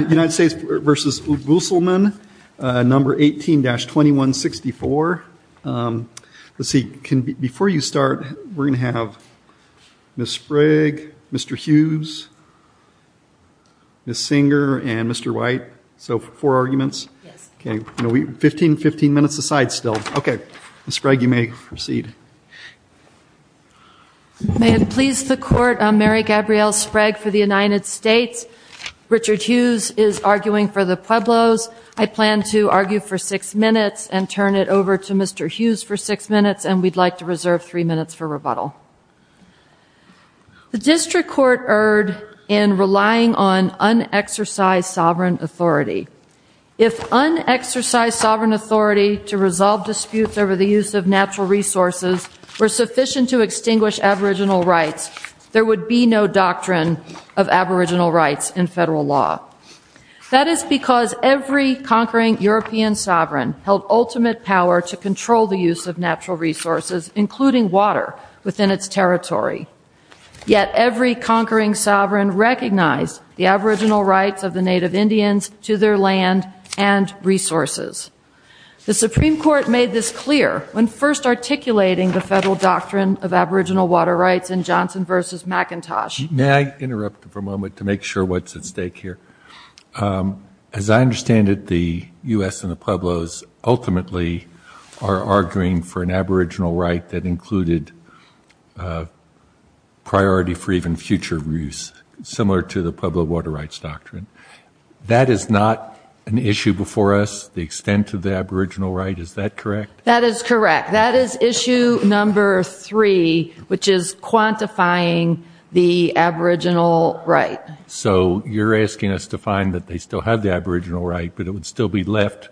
18-2164. Before you start we're going to have Ms. Sprague, Mr. Hughes, Ms. Singer and Mr. White, so four arguments. 15 minutes aside still. Ms. Sprague you may proceed. May it please the court, I'm Mary Gabrielle Sprague for the United States. Richard Hughes is arguing for the Pueblos. I plan to argue for six minutes and turn it over to Mr. Hughes for six minutes and we'd like to reserve three minutes for rebuttal. The district court erred in relying on unexercised sovereign authority. If unexercised sovereign authority to resolve disputes over the use of natural resources were sufficient to extinguish aboriginal rights, there would be no doctrine of aboriginal rights in federal law. That is because every conquering European sovereign held ultimate power to control the use of natural resources, including water, within its territory. Yet every conquering sovereign recognized the aboriginal rights of the Native Indians to their land and resources. The Supreme Court made this clear when first articulating the federal doctrine of aboriginal water rights in Johnson v. McIntosh. May I interrupt for a moment to make sure what's at stake here? As I understand it, the U.S. and the Pueblos ultimately are arguing for an aboriginal right that included priority for even future use, similar to the Pueblo water rights doctrine. That is not an issue before us, the extent of the aboriginal right? Is that correct? That is correct. That is issue number three, which is quantifying the aboriginal right. So you're asking us to find that they still have the aboriginal right, but it would still be left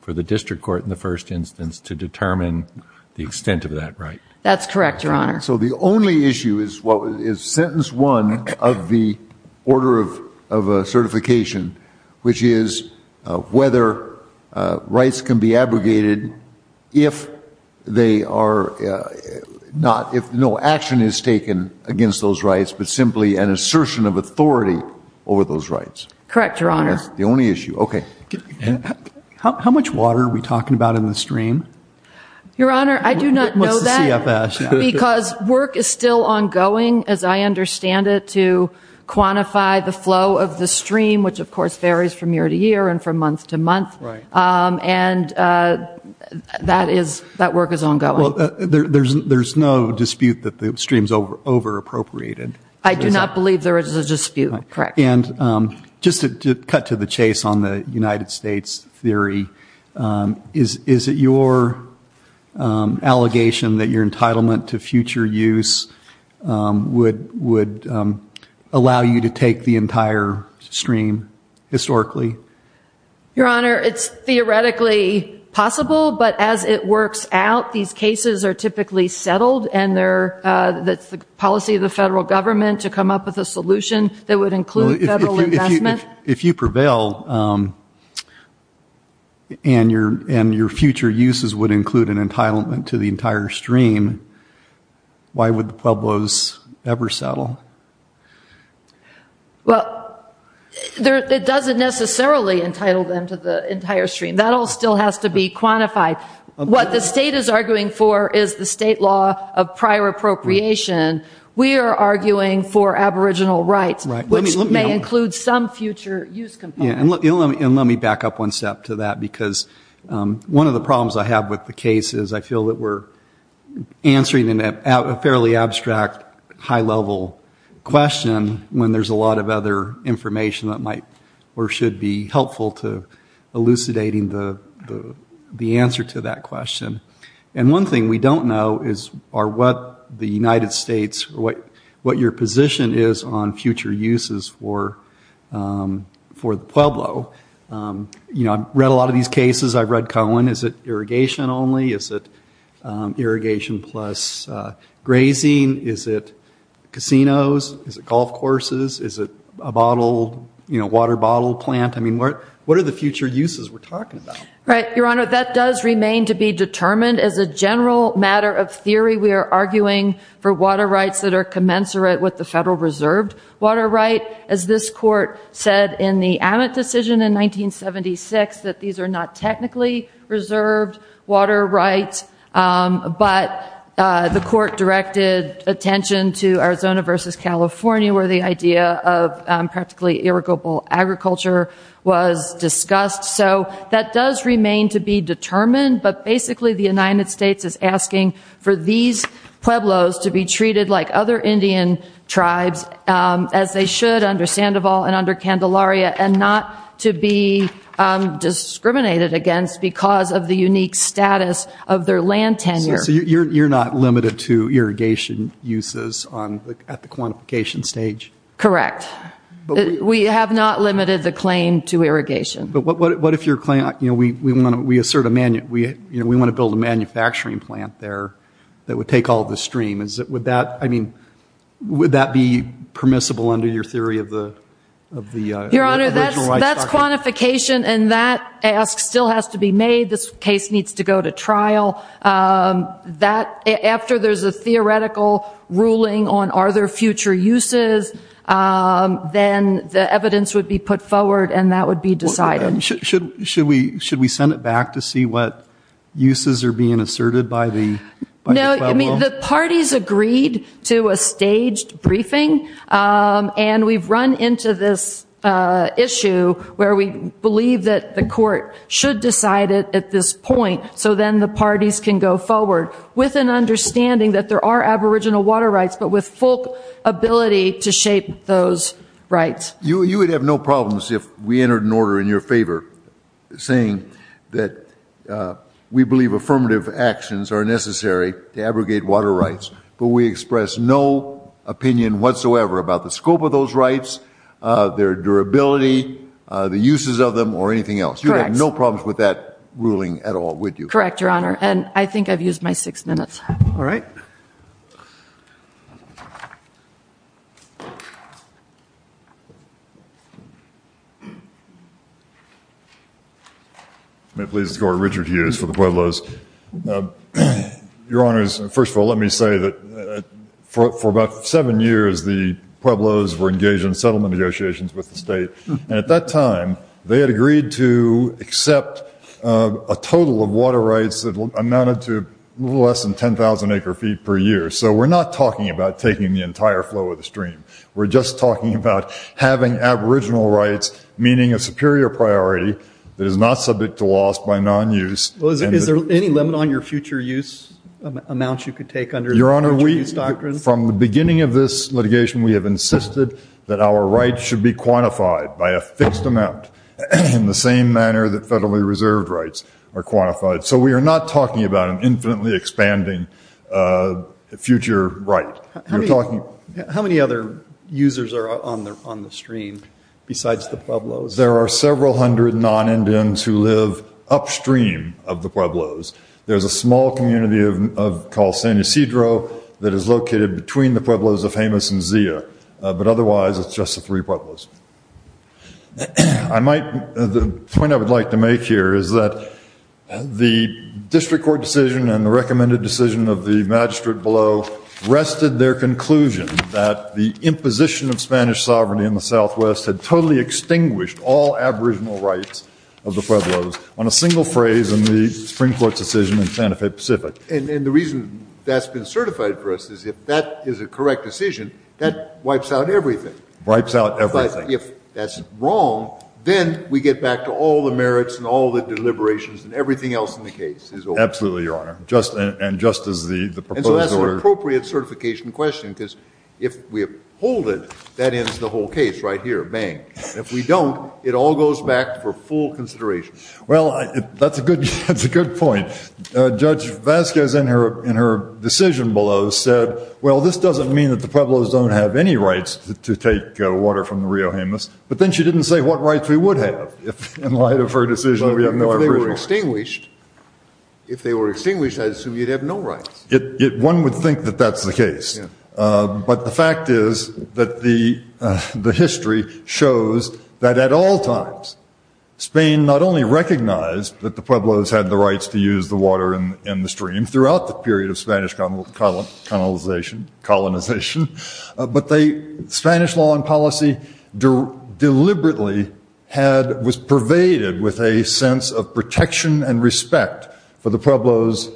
for the district court in the first instance to determine the extent of that right? That's correct, Your Honor. So the only issue is sentence one of the order of certification, which is whether rights can be abrogated if no action is taken against those rights, but simply an assertion of authority over those rights. Correct, Your Honor. That's the only issue. Okay. How much water are we talking about in the stream? Your Honor, I do not know that. What's the CFS? Because work is still ongoing, as I understand it, to quantify the flow of the stream, which of course varies from year to year and from month to month. Right. And that work is ongoing. Well, there's no dispute that the stream's over-appropriated. I do not believe there is a dispute. Correct. And just to cut to the chase on the United States theory, is it your allegation that your entitlement to future use would allow you to take the entire stream historically? Your Honor, it's theoretically possible, but as it works out, these cases are typically settled and it's the policy of the federal government to come up with a solution that would include federal investment. If you prevail and your future uses would include an entitlement to the entire stream, why would the Pueblos ever settle? Well, it doesn't necessarily entitle them to the entire stream. That all still has to be quantified. What the state is arguing for is the state law of prior appropriation. We are arguing for aboriginal rights, which may include some future use components. And let me back up one step to that, because one of the problems I have with the case is I feel that we're answering a fairly abstract, high-level question when there's a lot of other information that might or should be helpful to elucidating the answer to that question. And one thing we don't know is what the United States, what your position is on future uses for the Pueblo. You know, I've read a lot of these cases. I've read Cohen. Is it irrigation only? Is it irrigation plus grazing? Is it casinos? Is it golf courses? Is it a water bottle plant? I mean, what are the future uses we're talking about? Right, Your Honor, that does remain to be determined. As a general matter of theory, we are arguing for water rights that are commensurate with the federal reserved water right. As this court said in the Ammit decision in 1976, that these are not technically reserved water rights. But the court directed attention to Arizona versus California, where the idea of practically irrigable agriculture was discussed. So that does remain to be determined. But basically the United States is asking for these Pueblos to be treated like other Indian tribes, as they should under Sandoval and under Candelaria, and not to be discriminated against because of the unique status of their land tenure. So you're not limited to irrigation uses at the quantification stage? Correct. We have not limited the claim to irrigation. But what if we want to build a manufacturing plant there that would take all the stream? Would that be permissible under your theory of the original rights? Your Honor, that's quantification, and that ask still has to be made. This case needs to go to trial. After there's a theoretical ruling on are there future uses, then the evidence would be put forward, and that would be decided. Should we send it back to see what uses are being asserted by the Pueblo? No, I mean, the parties agreed to a staged briefing, and we've run into this issue where we believe that the court should decide it at this point, so then the parties can go forward with an understanding that there are aboriginal water rights, but with full ability to shape those rights. You would have no problems if we entered an order in your favor saying that we believe affirmative actions are necessary to abrogate water rights, but we express no opinion whatsoever about the scope of those rights, their durability, the uses of them, or anything else. Correct. You would have no problems with that ruling at all, would you? Correct, Your Honor, and I think I've used my six minutes. All right. May it please the Court, Richard Hughes for the Pueblos. Your Honors, first of all, let me say that for about seven years the Pueblos were engaged in settlement negotiations with the state, and at that time they had agreed to accept a total of water rights that amounted to a little less than 10,000 acre-feet per year, so we're not talking about taking the entire flow of the stream. We're just talking about having aboriginal rights, meaning a superior priority that is not subject to loss by non-use. Is there any limit on your future use amounts you could take under the future use doctrine? From the beginning of this litigation we have insisted that our rights should be quantified by a fixed amount, in the same manner that federally reserved rights are quantified. So we are not talking about an infinitely expanding future right. How many other users are on the stream besides the Pueblos? There are several hundred non-Indians who live upstream of the Pueblos. There's a small community called San Ysidro that is located between the Pueblos of Jemez and Zia, but otherwise it's just the three Pueblos. The point I would like to make here is that the district court decision and the recommended decision of the magistrate below rested their conclusion that the imposition of Spanish sovereignty in the Southwest had totally extinguished all aboriginal rights of the Pueblos on a single phrase in the Supreme Court's decision in Santa Fe Pacific. And the reason that's been certified for us is if that is a correct decision, that wipes out everything. Wipes out everything. But if that's wrong, then we get back to all the merits and all the deliberations and everything else in the case is over. Absolutely, Your Honor, and just as the proposed order— If we don't, it all goes back for full consideration. Well, that's a good point. Judge Vasquez in her decision below said, well, this doesn't mean that the Pueblos don't have any rights to take water from the Rio Jemez. But then she didn't say what rights we would have in light of her decision. If they were extinguished, I assume you'd have no rights. One would think that that's the case. But the fact is that the history shows that at all times, Spain not only recognized that the Pueblos had the rights to use the water in the stream throughout the period of Spanish colonization, but Spanish law and policy deliberately was pervaded with a sense of protection and respect for the Pueblos'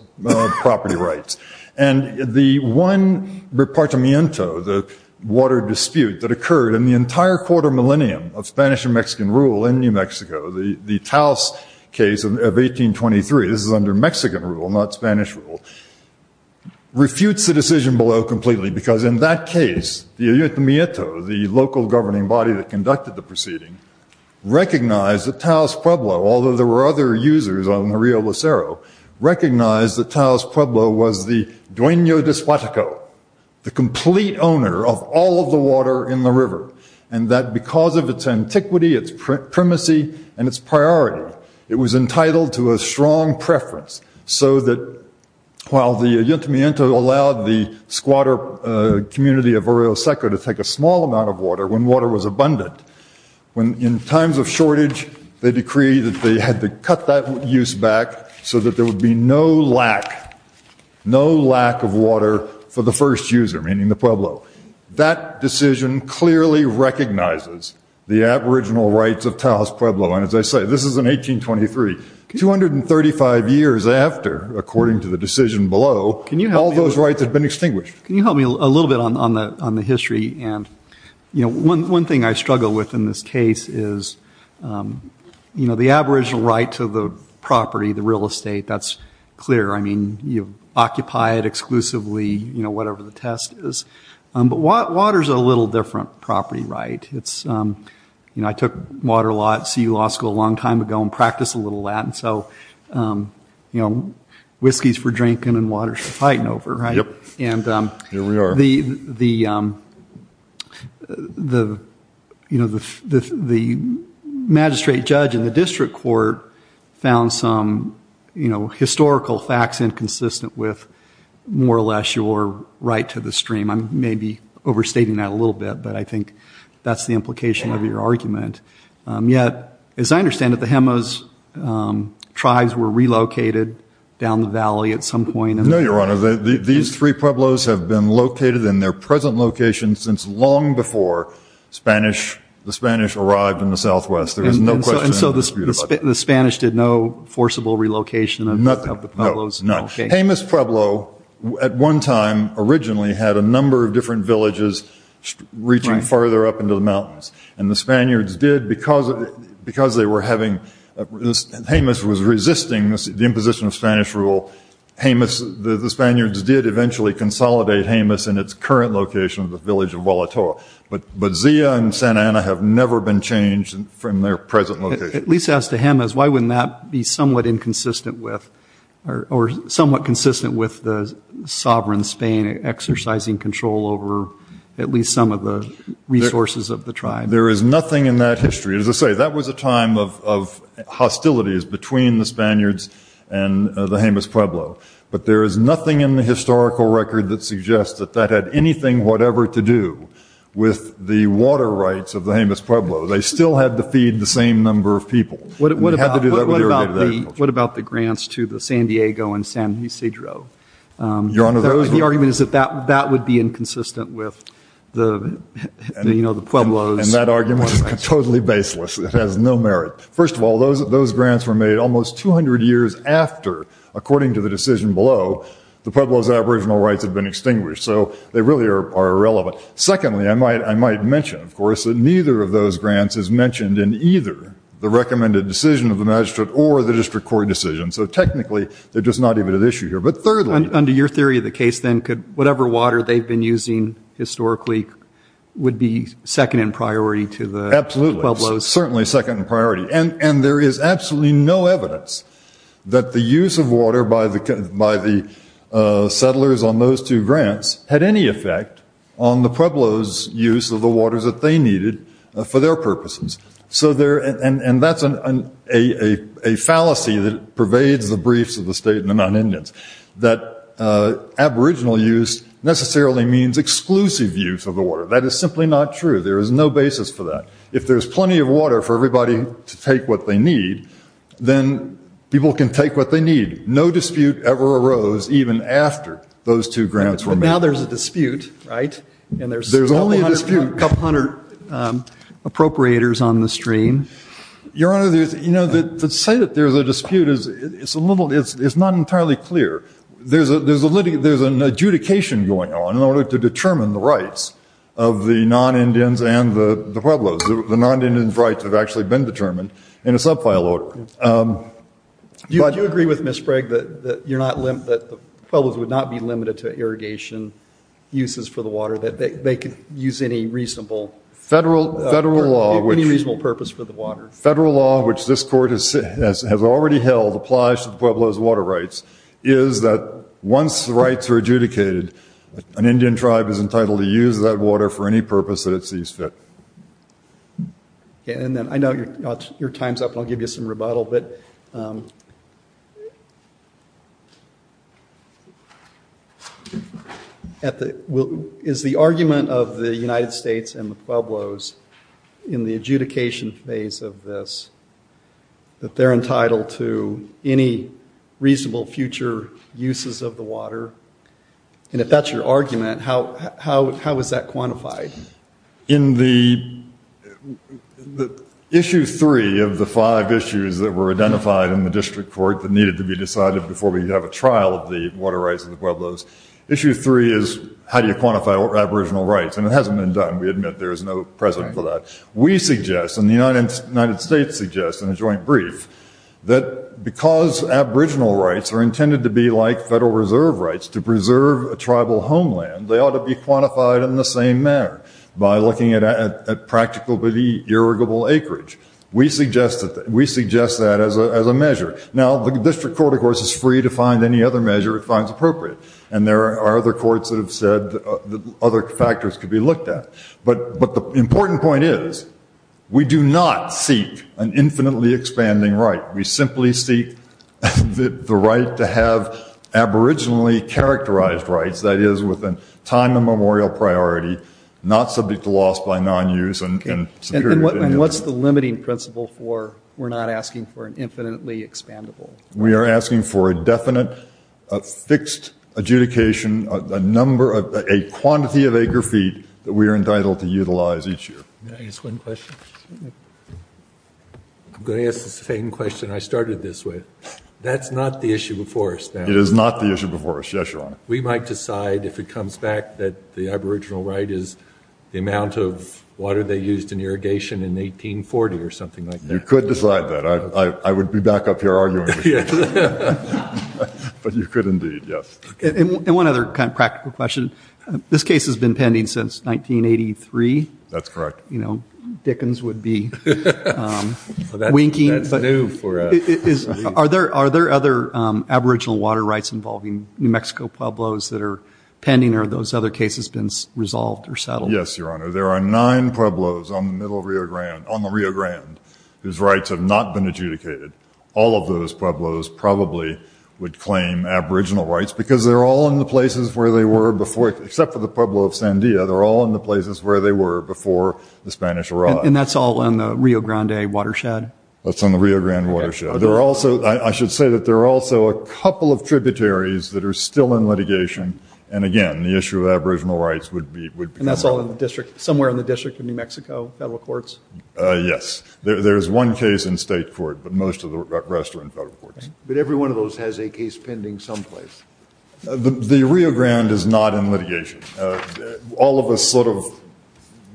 property rights. And the one repartimiento, the water dispute, that occurred in the entire quarter millennium of Spanish and Mexican rule in New Mexico, the Taos case of 1823—this is under Mexican rule, not Spanish rule—refutes the decision below completely because in that case, the ayuntamiento, the local governing body that conducted the proceeding, recognized that Taos Pueblo, although there were other users on the Rio Lucero, recognized that Taos Pueblo was the dueño de su ataco, the complete owner of all of the water in the river, and that because of its antiquity, its primacy, and its priority, it was entitled to a strong preference so that while the ayuntamiento allowed the squatter community of Orioseco to take a small amount of water when water was abundant, in times of shortage, they decreed that they had to cut that use back so that there would be no lack, no lack of water for the first user, meaning the Pueblo. That decision clearly recognizes the aboriginal rights of Taos Pueblo. And as I say, this is in 1823, 235 years after, according to the decision below, all those rights had been extinguished. Can you help me a little bit on the history? One thing I struggle with in this case is the aboriginal right to the property, the real estate. That's clear. I mean, you occupy it exclusively, whatever the test is. But water is a little different property right. I took water law at CU Law School a long time ago and practiced a little of that. So, you know, whiskey's for drinking and water's for fighting over, right? And the magistrate judge in the district court found some, you know, historical facts inconsistent with more or less your right to the stream. I may be overstating that a little bit, but I think that's the implication of your argument. Yet, as I understand it, the Jemez tribes were relocated down the valley at some point. No, Your Honor. These three Pueblos have been located in their present location since long before the Spanish arrived in the southwest. And so the Spanish did no forcible relocation of the Pueblos? No, none. Jemez Pueblo at one time originally had a number of different villages reaching farther up into the mountains. And the Spaniards did because they were having – Jemez was resisting the imposition of Spanish rule. Jemez – the Spaniards did eventually consolidate Jemez in its current location of the village of Vuelator. But Zia and Santa Ana have never been changed from their present location. At least as to Jemez, why wouldn't that be somewhat inconsistent with – or somewhat consistent with the sovereign Spain exercising control over at least some of the resources of the tribe? There is nothing in that history – as I say, that was a time of hostilities between the Spaniards and the Jemez Pueblo. But there is nothing in the historical record that suggests that that had anything whatever to do with the water rights of the Jemez Pueblo. They still had to feed the same number of people. What about the grants to the San Diego and San Isidro? The argument is that that would be inconsistent with the Pueblos. And that argument is totally baseless. It has no merit. First of all, those grants were made almost 200 years after, according to the decision below, the Pueblos' aboriginal rights had been extinguished. So they really are irrelevant. Secondly, I might mention, of course, that neither of those grants is mentioned in either the recommended decision of the magistrate or the district court decision. So technically, they're just not even an issue here. But thirdly – Under your theory of the case, then, could whatever water they've been using historically would be second in priority to the Pueblos? Absolutely. Certainly second in priority. And there is absolutely no evidence that the use of water by the settlers on those two grants had any effect on the Pueblos' use of the waters that they needed for their purposes. And that's a fallacy that pervades the briefs of the state and the non-Indians, that aboriginal use necessarily means exclusive use of the water. That is simply not true. There is no basis for that. If there's plenty of water for everybody to take what they need, then people can take what they need. No dispute ever arose even after those two grants were made. But now there's a dispute, right? There's only a dispute. And there's a couple hundred appropriators on the stream. Your Honor, to say that there's a dispute is not entirely clear. There's an adjudication going on in order to determine the rights of the non-Indians and the Pueblos. The non-Indians' rights have actually been determined in a subfile order. Do you agree with Ms. Sprague that the Pueblos would not be limited to irrigation uses for the water, that they could use any reasonable purpose for the water? Your Honor, federal law, which this Court has already held, applies to the Pueblos' water rights, is that once the rights are adjudicated, an Indian tribe is entitled to use that water for any purpose that it sees fit. I know your time's up, and I'll give you some rebuttal, but is the argument of the United States and the Pueblos in the adjudication phase of this that they're entitled to any reasonable future uses of the water? And if that's your argument, how is that quantified? In the issue three of the five issues that were identified in the district court that needed to be decided before we could have a trial of the water rights of the Pueblos, issue three is how do you quantify aboriginal rights? And it hasn't been done. We admit there is no precedent for that. We suggest, and the United States suggests in a joint brief, that because aboriginal rights are intended to be like Federal Reserve rights to preserve a tribal homeland, they ought to be quantified in the same manner by looking at practical irrigable acreage. We suggest that as a measure. Now, the district court, of course, is free to find any other measure it finds appropriate, and there are other courts that have said that other factors could be looked at. But the important point is we do not seek an infinitely expanding right. We simply seek the right to have aboriginally characterized rights, that is, with a time and memorial priority, not subject to loss by nonuse and superior to any other. And what's the limiting principle for we're not asking for an infinitely expandable right? Can I ask one question? I'm going to ask the same question I started this with. That's not the issue before us now. It is not the issue before us. Yes, Your Honor. We might decide if it comes back that the aboriginal right is the amount of water they used in irrigation in 1840 or something like that. You could decide that. I would be back up here arguing with you. But you could indeed, yes. And one other kind of practical question. This case has been pending since 1983. That's correct. You know, Dickens would be winking. That's new for us. Are there other aboriginal water rights involving New Mexico Pueblos that are pending, or have those other cases been resolved or settled? Yes, Your Honor. There are nine Pueblos on the Rio Grande whose rights have not been adjudicated. All of those Pueblos probably would claim aboriginal rights because they're all in the places where they were before, except for the Pueblo of Sandia, they're all in the places where they were before the Spanish arrived. And that's all on the Rio Grande watershed? That's on the Rio Grande watershed. I should say that there are also a couple of tributaries that are still in litigation. And, again, the issue of aboriginal rights would become relevant. And that's all in the district, somewhere in the district of New Mexico, federal courts? Yes. There's one case in state court, but most of the rest are in federal courts. But every one of those has a case pending someplace. The Rio Grande is not in litigation. All of us sort of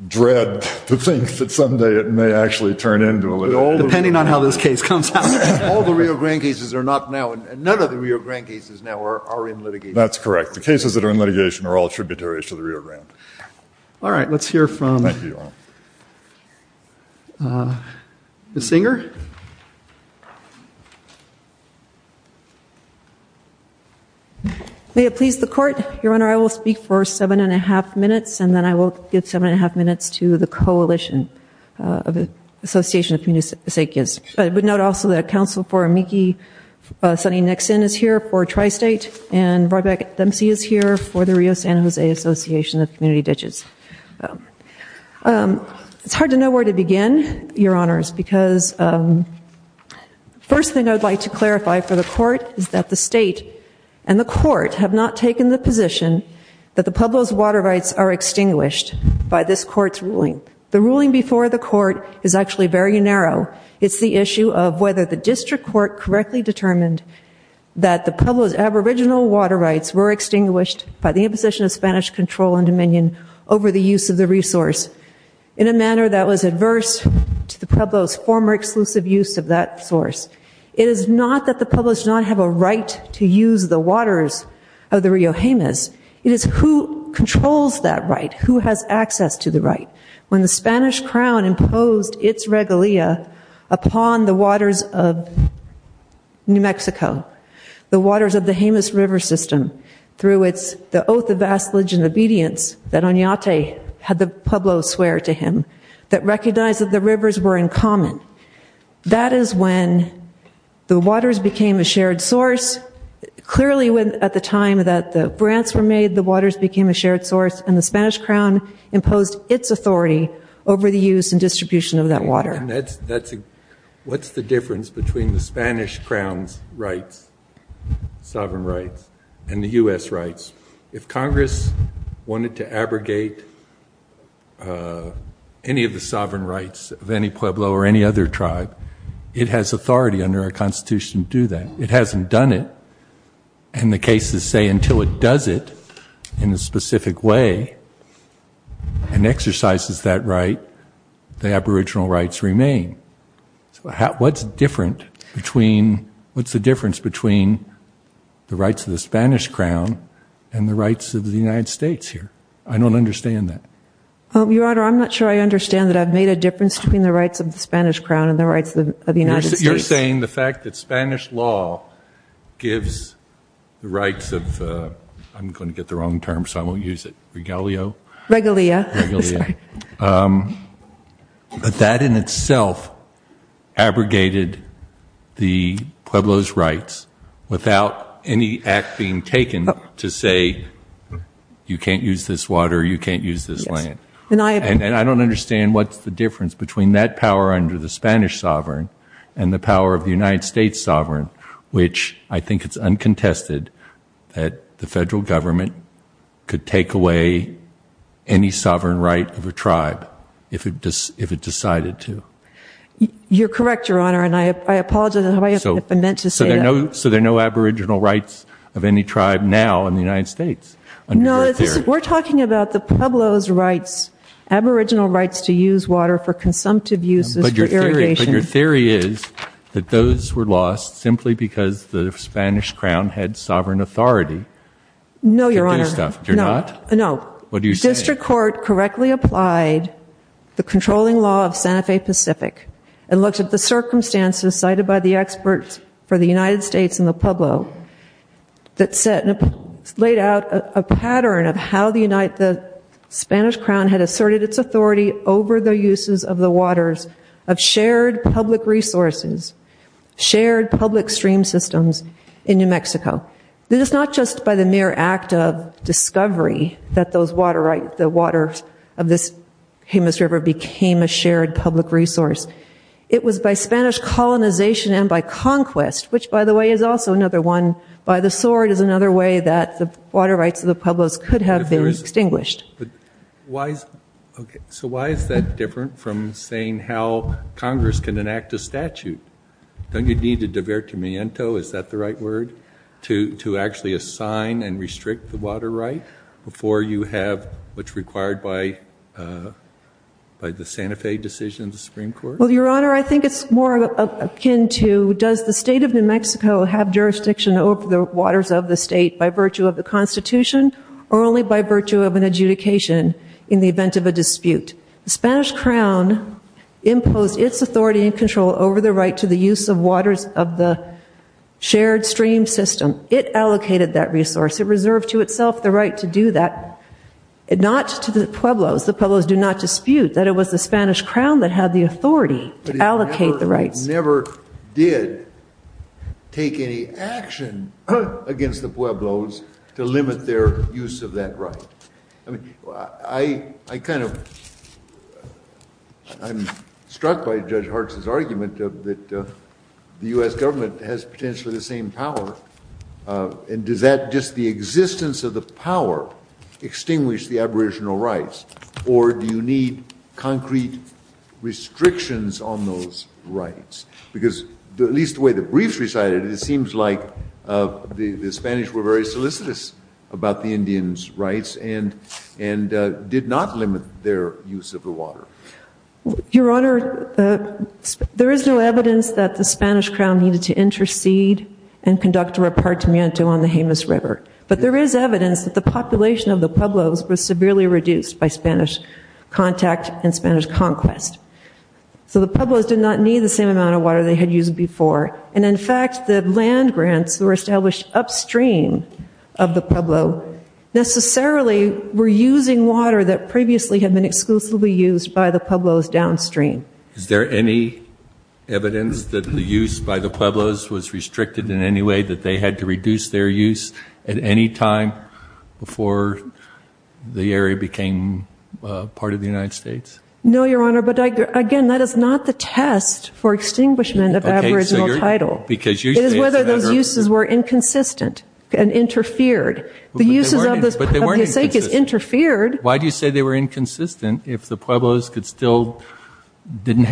dread to think that someday it may actually turn into a litigation. Depending on how this case comes out. All the Rio Grande cases are not now, and none of the Rio Grande cases now are in litigation. That's correct. The cases that are in litigation are all tributaries to the Rio Grande. All right. Let's hear from Ms. Singer. May it please the court. Your Honor, I will speak for seven and a half minutes, and then I will give seven and a half minutes to the Coalition of Association of Community Secures. I would note also that Counsel for Amici Sunny Nixon is here for Tri-State, and Rebecca Dempsey is here for the Rio San Jose Association of Community Ditches. It's hard to know where to begin, Your Honors, because the first thing I would like to clarify for the court is that the state and the court have not taken the position that the Pueblo's water rights are extinguished by this court's ruling. The ruling before the court is actually very narrow. It's the issue of whether the district court correctly determined that the Pueblo's aboriginal water rights were extinguished by the imposition of Spanish control and dominion over the use of the resource in a manner that was adverse to the Pueblo's former exclusive use of that source. It is not that the Pueblos do not have a right to use the waters of the Rio Jemez. It is who controls that right, who has access to the right. When the Spanish crown imposed its regalia upon the waters of New Mexico, the waters of the Jemez River system, through its oath of vassalage and obedience that Oñate had the Pueblos swear to him, that recognized that the rivers were in common, that is when the waters became a shared source. Clearly, at the time that the grants were made, the waters became a shared source, and the Spanish crown imposed its authority over the use and distribution of that water. What's the difference between the Spanish crown's rights, sovereign rights, and the U.S. rights? If Congress wanted to abrogate any of the sovereign rights of any Pueblo or any other tribe, it has authority under our Constitution to do that. It hasn't done it, and the cases say until it does it in a specific way and exercises that right, the aboriginal rights remain. What's the difference between the rights of the Spanish crown and the rights of the United States here? I don't understand that. Your Honor, I'm not sure I understand that I've made a difference between the rights of the Spanish crown and the rights of the United States. You're saying the fact that Spanish law gives the rights of, I'm going to get the wrong term so I won't use it, regalio? Regalia. Regalia. But that in itself abrogated the Pueblo's rights without any act being taken to say you can't use this water, you can't use this land. And I don't understand what's the difference between that power under the Spanish sovereign and the power of the United States sovereign, which I think it's uncontested that the federal government could take away any sovereign right of a tribe if it decided to. You're correct, Your Honor, and I apologize if I meant to say that. So there are no aboriginal rights of any tribe now in the United States? No, we're talking about the Pueblo's rights, aboriginal rights to use water for consumptive uses for irrigation. But your theory is that those were lost simply because the Spanish crown had sovereign authority to do stuff. No, Your Honor. They're not? No. What are you saying? District court correctly applied the controlling law of Santa Fe Pacific and looked at the circumstances cited by the experts for the United States and the Pueblo that laid out a pattern of how the Spanish crown had asserted its authority over the uses of the waters of shared public resources, shared public stream systems in New Mexico. This is not just by the mere act of discovery that the waters of this Jemez River became a shared public resource. It was by Spanish colonization and by conquest, which, by the way, is also another one. By the sword is another way that the water rights of the Pueblos could have been extinguished. So why is that different from saying how Congress can enact a statute? Don't you need a divertimento, is that the right word, to actually assign and restrict the water right before you have what's required by the Santa Fe decision of the Supreme Court? Well, Your Honor, I think it's more akin to does the state of New Mexico have jurisdiction over the waters of the state by virtue of the Constitution or only by virtue of an adjudication in the event of a dispute? The Spanish crown imposed its authority and control over the right to the use of waters of the shared stream system. It allocated that resource. It reserved to itself the right to do that, not to the Pueblos. The Pueblos do not dispute that it was the Spanish crown that had the authority to allocate the rights. But it never did take any action against the Pueblos to limit their use of that right. I'm struck by Judge Hartz's argument that the U.S. government has potentially the same power. And does that, just the existence of the power, extinguish the aboriginal rights? Or do you need concrete restrictions on those rights? Because, at least the way the briefs recited it, it seems like the Spanish were very solicitous about the Indians' rights. And did not limit their use of the water. Your Honor, there is no evidence that the Spanish crown needed to intercede and conduct a repartimento on the Jemez River. But there is evidence that the population of the Pueblos was severely reduced by Spanish contact and Spanish conquest. So the Pueblos did not need the same amount of water they had used before. And in fact, the land grants were established upstream of the Pueblo. Necessarily, were using water that previously had been exclusively used by the Pueblos downstream. Is there any evidence that the use by the Pueblos was restricted in any way? That they had to reduce their use at any time before the area became part of the United States? No, Your Honor. But, again, that is not the test for extinguishment of aboriginal title. It is whether those uses were inconsistent and interfered. The uses of the sake is interfered. Why do you say they were inconsistent if the Pueblos still didn't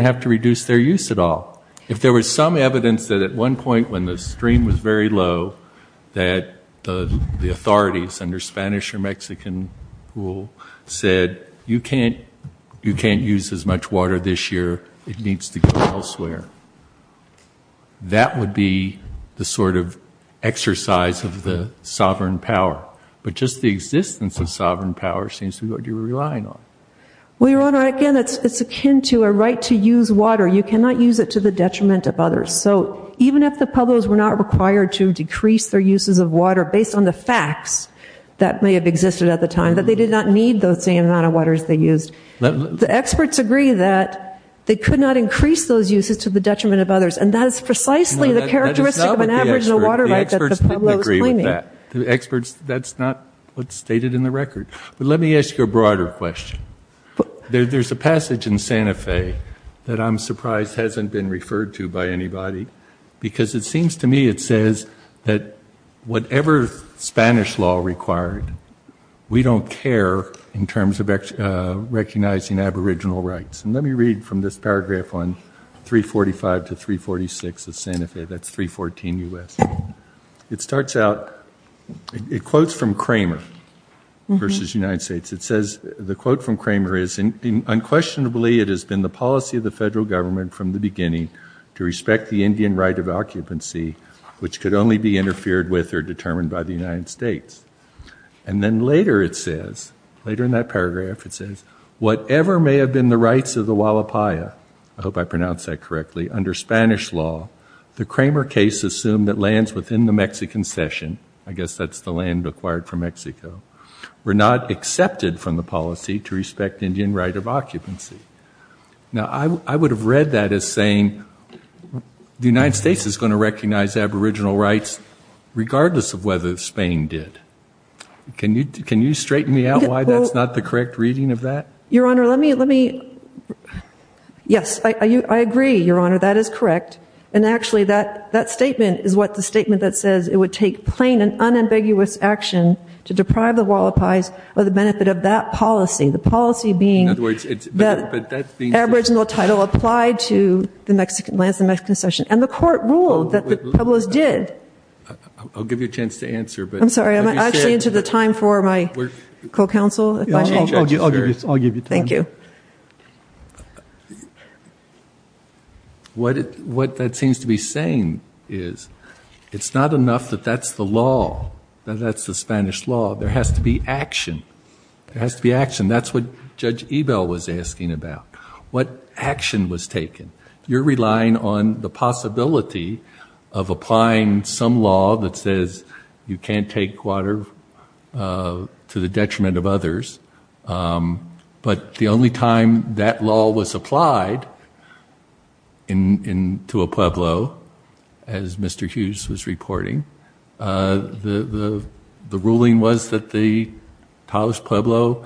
have to reduce their use at all? If there was some evidence that at one point when the stream was very low, that the authorities under Spanish or Mexican rule said, you can't use as much water this year. It needs to go elsewhere. That would be the sort of exercise of the sovereign power. But just the existence of sovereign power seems to be what you're relying on. Well, Your Honor, again, it's akin to a right to use water. You cannot use it to the detriment of others. So even if the Pueblos were not required to decrease their uses of water, based on the facts that may have existed at the time, that they did not need the same amount of waters they used, the experts agree that they could not increase those uses to the detriment of others. And that is precisely the characteristic of an aboriginal water right that the Pueblos claim. The experts didn't agree with that. The experts, that's not what's stated in the record. But let me ask you a broader question. There's a passage in Santa Fe that I'm surprised hasn't been referred to by anybody, because it seems to me it says that whatever Spanish law required, we don't care in terms of recognizing aboriginal rights. And let me read from this paragraph on 345 to 346 of Santa Fe. That's 314 U.S. It starts out, it quotes from Kramer versus United States. It says, the quote from Kramer is, unquestionably it has been the policy of the federal government from the beginning to respect the Indian right of occupancy, which could only be interfered with or determined by the United States. And then later it says, later in that paragraph it says, whatever may have been the rights of the Hualapaya, I hope I pronounced that correctly, under Spanish law, the Kramer case assumed that lands within the Mexican Cession, I guess that's the land acquired from Mexico, were not accepted from the policy to respect Indian right of occupancy. Now I would have read that as saying the United States is going to recognize aboriginal rights regardless of whether Spain did. Can you straighten me out why that's not the correct reading of that? Your Honor, let me, yes, I agree, Your Honor, that is correct. And actually that statement is what the statement that says it would take plain and unambiguous action to deprive the Hualapayas of the benefit of that policy. The policy being that aboriginal title applied to the Mexican lands, the Mexican Cession. And the court ruled that the Pueblos did. I'll give you a chance to answer. I'm sorry, am I actually into the time for my co-counsel? I'll give you time. Thank you. Your Honor, what that seems to be saying is it's not enough that that's the law, that that's the Spanish law. There has to be action. There has to be action. That's what Judge Ebell was asking about, what action was taken. You're relying on the possibility of applying some law that says you can't take water to the detriment of others. But the only time that law was applied to a Pueblo, as Mr. Hughes was reporting, the ruling was that the Taos Pueblo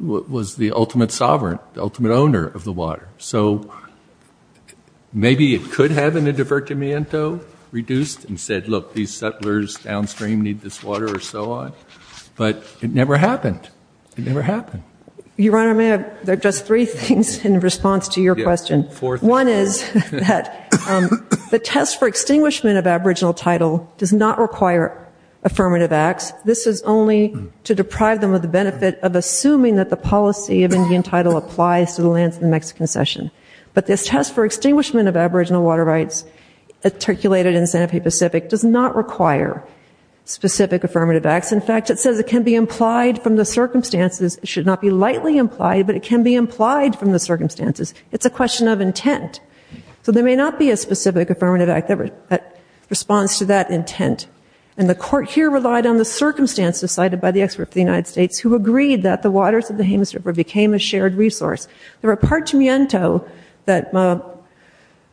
was the ultimate sovereign, the ultimate owner of the water. So maybe it could have been a divertimento reduced and said, look, these settlers downstream need this water or so on. But it never happened. It never happened. Your Honor, there are just three things in response to your question. One is that the test for extinguishment of aboriginal title does not require affirmative acts. This is only to deprive them of the benefit of assuming that the policy of Indian title applies to the lands of the Mexican Cession. But this test for extinguishment of aboriginal water rights, articulated in Santa Fe Pacific, does not require specific affirmative acts. In fact, it says it can be implied from the circumstances. It should not be lightly implied, but it can be implied from the circumstances. It's a question of intent. So there may not be a specific affirmative act that responds to that intent. And the Court here relied on the circumstances cited by the expert of the United States who agreed that the waters of the Jemez River became a shared resource. The repartimento that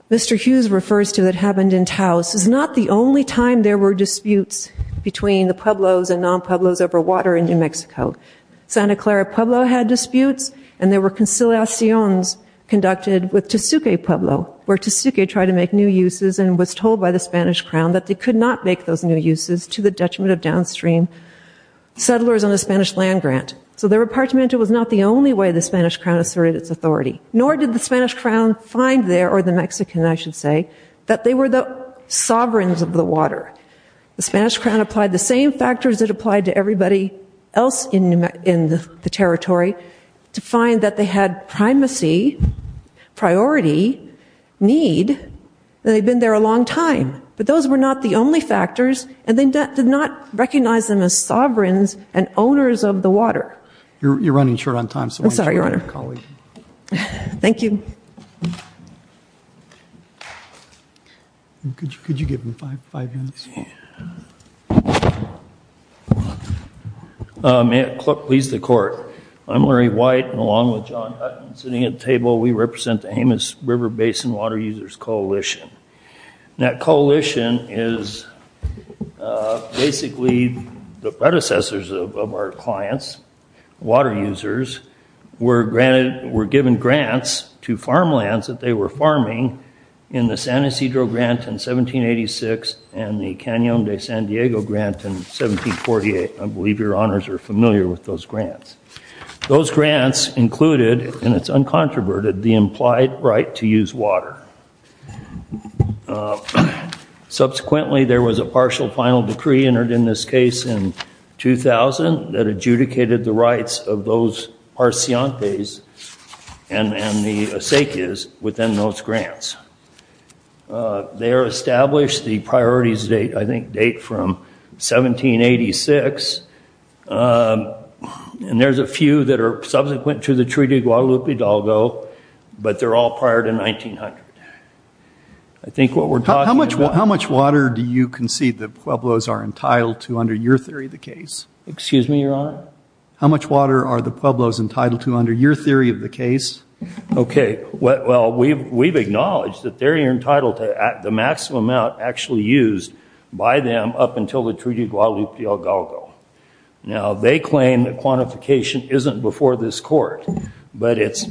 Mr. Hughes refers to that happened in Taos is not the only time there were disputes between the Pueblos and non-Pueblos over water in New Mexico. Santa Clara Pueblo had disputes, and there were conciliaciones conducted with Tezucue Pueblo, where Tezucue tried to make new uses and was told by the Spanish Crown that they could not make those new uses to the detriment of downstream settlers on the Spanish land grant. So the repartimento was not the only way the Spanish Crown asserted its authority. Nor did the Spanish Crown find there, or the Mexican I should say, that they were the sovereigns of the water. The Spanish Crown applied the same factors it applied to everybody else in the territory to find that they had primacy, priority, need, and they'd been there a long time. But those were not the only factors, and they did not recognize them as sovereigns and owners of the water. You're running short on time. I'm sorry, Your Honor. Thank you. Could you give them five minutes? May it please the Court. I'm Larry White, and along with John Hutton sitting at the table, we represent the Jemez River Basin Water Users Coalition. That coalition is basically the predecessors of our clients. Water users were given grants to farmlands that they were farming in the San Ysidro grant in 1786 and the Canyon de San Diego grant in 1748. I believe Your Honors are familiar with those grants. Those grants included, and it's uncontroverted, the implied right to use water. Subsequently, there was a partial final decree entered in this case in 2000 that adjudicated the rights of those parcientes and the acequias within those grants. They are established, the priorities, I think, date from 1786, and there's a few that are subsequent to the Treaty of Guadalupe Hidalgo, but they're all prior to 1900. How much water do you concede the Pueblos are entitled to under your theory of the case? Excuse me, Your Honor? How much water are the Pueblos entitled to under your theory of the case? Okay. Now, they claim that quantification isn't before this court, but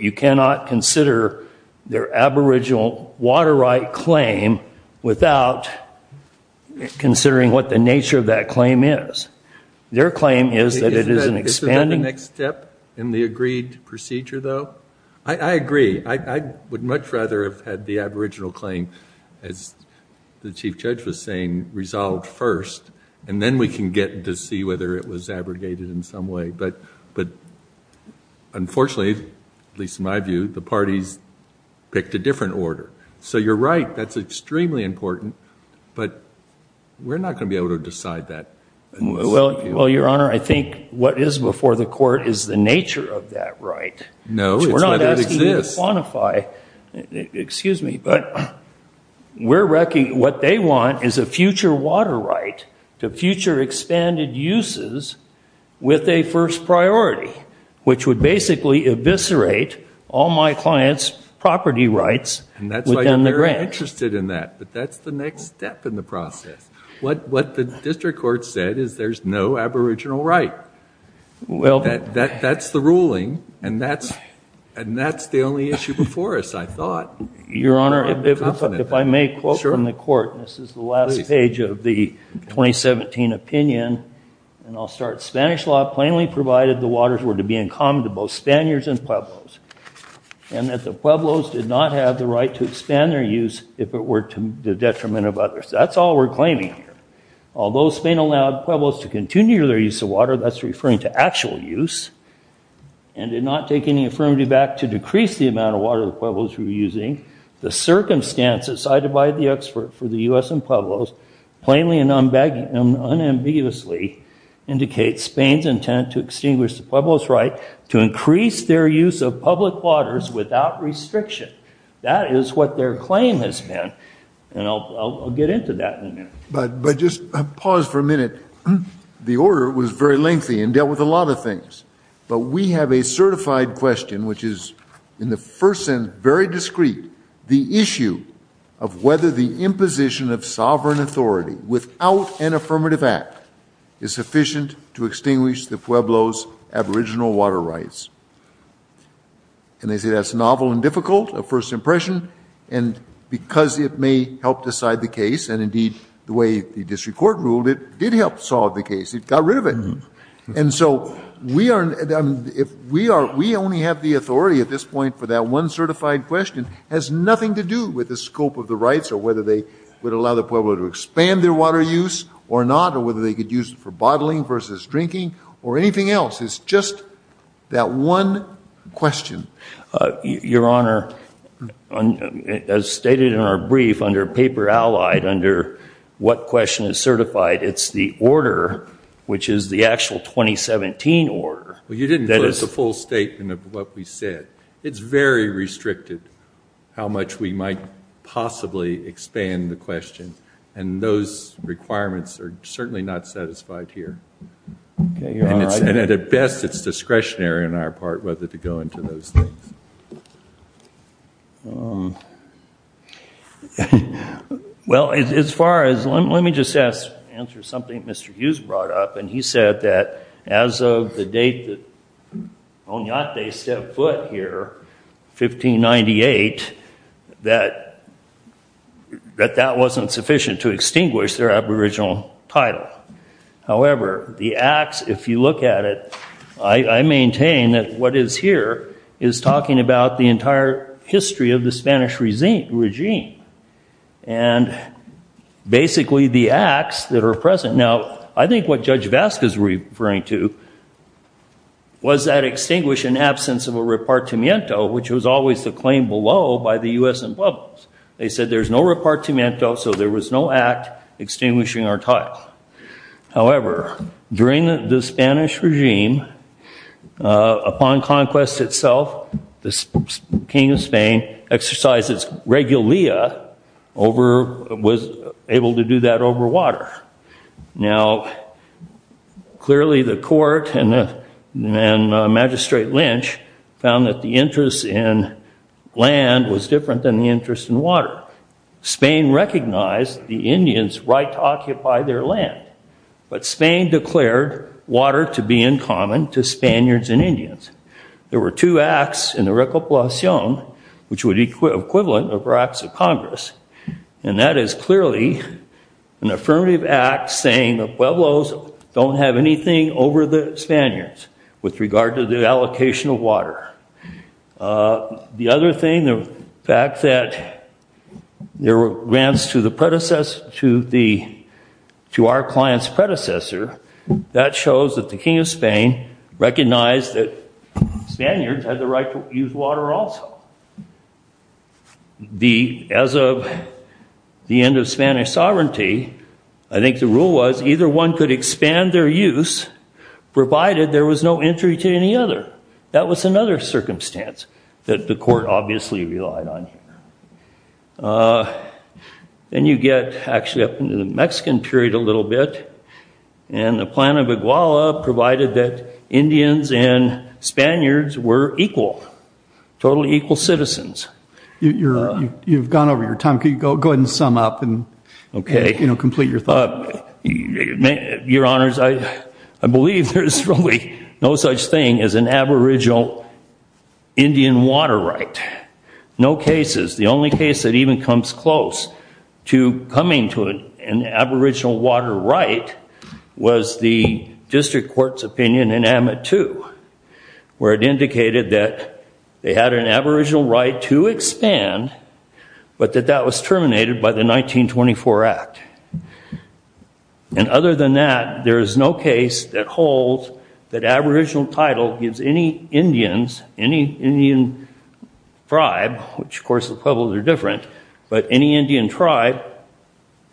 you cannot consider their aboriginal water right claim without considering what the nature of that claim is. Their claim is that it is an expanding- Isn't that the next step in the agreed procedure, though? I agree. I would much rather have had the aboriginal claim, as the Chief Judge was saying, resolved first, and then we can get to see whether it was abrogated in some way. But unfortunately, at least in my view, the parties picked a different order. So you're right, that's extremely important, but we're not going to be able to decide that. Well, Your Honor, I think what is before the court is the nature of that right. No, it's whether it exists. We're not asking you to quantify. Excuse me, but what they want is a future water right to future expanded uses with a first priority, which would basically eviscerate all my clients' property rights within the grant. And that's why you're very interested in that, but that's the next step in the process. What the district court said is there's no aboriginal right. That's the ruling, and that's the only issue before us, I thought. Your Honor, if I may quote from the court. This is the last page of the 2017 opinion, and I'll start. Spanish law plainly provided the waters were to be in common to both Spaniards and Pueblos, and that the Pueblos did not have the right to expand their use if it were to the detriment of others. That's all we're claiming here. Although Spain allowed Pueblos to continue their use of water, that's referring to actual use, and did not take any affirmative back to decrease the amount of water the Pueblos were using, the circumstances cited by the expert for the U.S. and Pueblos, plainly and unambiguously, indicate Spain's intent to extinguish the Pueblos' right to increase their use of public waters without restriction. That is what their claim has been, and I'll get into that in a minute. But just pause for a minute. The order was very lengthy and dealt with a lot of things, but we have a certified question, which is in the first sentence very discreet, the issue of whether the imposition of sovereign authority without an affirmative act is sufficient to extinguish the Pueblos' aboriginal water rights. And they say that's novel and difficult, a first impression, and because it may help decide the case, and indeed the way the district court ruled, it did help solve the case. It got rid of it. And so we only have the authority at this point for that one certified question. It has nothing to do with the scope of the rights or whether they would allow the Pueblos to expand their water use or not, or whether they could use it for bottling versus drinking or anything else. It's just that one question. Your Honor, as stated in our brief under paper allied under what question is certified, it's the order, which is the actual 2017 order. Well, you didn't put the full statement of what we said. It's very restricted how much we might possibly expand the question, and those requirements are certainly not satisfied here. And at best it's discretionary on our part whether to go into those things. Well, let me just answer something Mr. Hughes brought up, and he said that as of the date that Onate set foot here, 1598, that that wasn't sufficient to extinguish their aboriginal title. However, the acts, if you look at it, I maintain that what is here is talking about the entire history of the Spanish regime, and basically the acts that are present. Now, I think what Judge Vasquez was referring to was that extinguishing absence of a repartimento, which was always the claim below by the U.S. and Pueblos. They said there's no repartimento, so there was no act extinguishing our title. However, during the Spanish regime, upon conquest itself, the king of Spain exercised his regalia, was able to do that over water. Now, clearly the court and Magistrate Lynch found that the interest in land was different than the interest in water. Spain recognized the Indians' right to occupy their land, but Spain declared water to be in common to Spaniards and Indians. There were two acts in the recopilacion, which would be equivalent of our Acts of Congress, and that is clearly an affirmative act saying the Pueblos don't have anything over the Spaniards with regard to the allocation of water. The other thing, the fact that there were grants to our client's predecessor, that shows that the king of Spain recognized that Spaniards had the right to use water also. As of the end of Spanish sovereignty, I think the rule was either one could expand their use provided there was no entry to any other. That was another circumstance that the court obviously relied on. Then you get actually up into the Mexican period a little bit, and the Plan of Iguala provided that Indians and Spaniards were equal, totally equal citizens. You've gone over your time. Could you go ahead and sum up and complete your thought? Your Honors, I believe there's really no such thing as an aboriginal Indian water right. No cases. The only case that even comes close to coming to an aboriginal water right was the district court's opinion in Amit 2, where it indicated that they had an aboriginal right to expand, but that that was terminated by the 1924 Act. Other than that, there is no case that holds that aboriginal title gives any Indians, any Indian tribe, which of course the pueblos are different, but any Indian tribe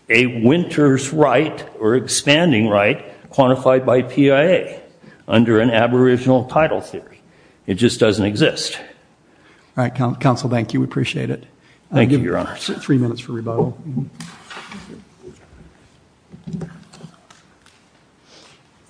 a winter's right or expanding right quantified by PIA under an aboriginal title theory. It just doesn't exist. All right, Counsel, thank you. We appreciate it. Thank you, Your Honors. I'll give you three minutes for rebuttal.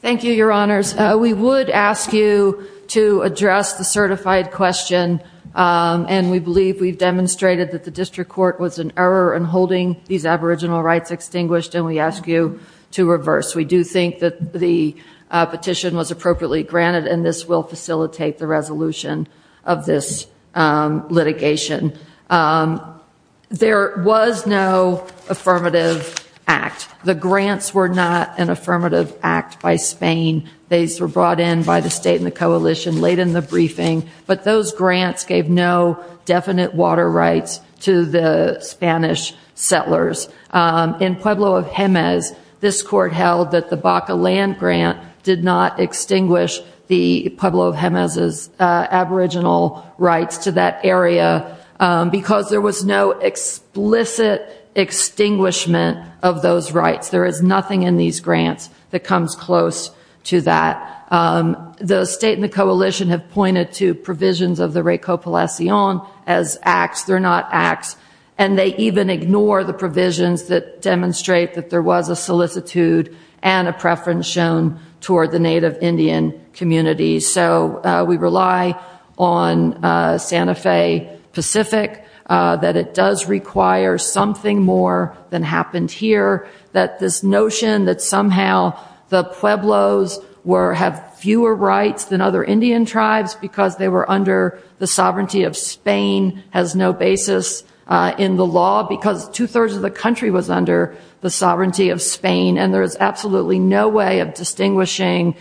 Thank you, Your Honors. We would ask you to address the certified question, and we believe we've demonstrated that the district court was in error in holding these aboriginal rights extinguished, and we ask you to reverse. We do think that the petition was appropriately granted, and this will facilitate the resolution of this litigation. There was no affirmative act. The grants were not an affirmative act by Spain. These were brought in by the state and the coalition late in the briefing, but those grants gave no definite water rights to the Spanish settlers. In Pueblo of Jemez, this court held that the Baca land grant did not extinguish the Pueblo of Jemez's aboriginal rights to that area because there was no explicit extinguishment of those rights. There is nothing in these grants that comes close to that. The state and the coalition have pointed to provisions of the Recopalacion as acts. They're not acts, and they even ignore the provisions that demonstrate that there was a solicitude and a preference shown toward the Native Indian community. So we rely on Santa Fe Pacific, that it does require something more than happened here, that this notion that somehow the Pueblos have fewer rights than other Indian tribes because they were under the sovereignty of Spain has no basis in the law because two-thirds of the country was under the sovereignty of Spain, and there is absolutely no way of distinguishing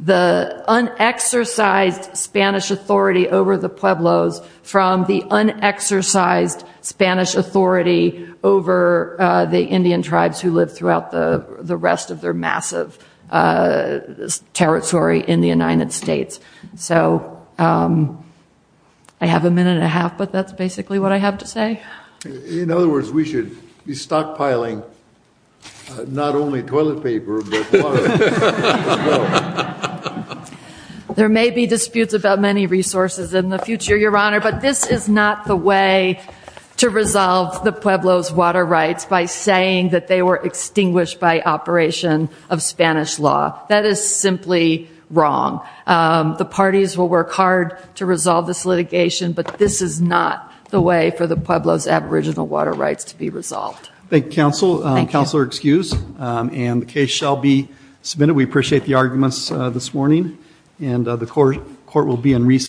the unexercised Spanish authority over the Pueblos from the unexercised Spanish authority over the Indian tribes who lived throughout the rest of their massive territory in the United States. So I have a minute and a half, but that's basically what I have to say. In other words, we should be stockpiling not only toilet paper, but water. There may be disputes about many resources in the future, Your Honor, but this is not the way to resolve the Pueblos' water rights by saying that they were extinguished by operation of Spanish law. That is simply wrong. The parties will work hard to resolve this litigation, but this is not the way for the Pueblos' aboriginal water rights to be resolved. Thank you, Counsel. Counselor, excused. And the case shall be submitted. We appreciate the arguments this morning, and the court will be in recess.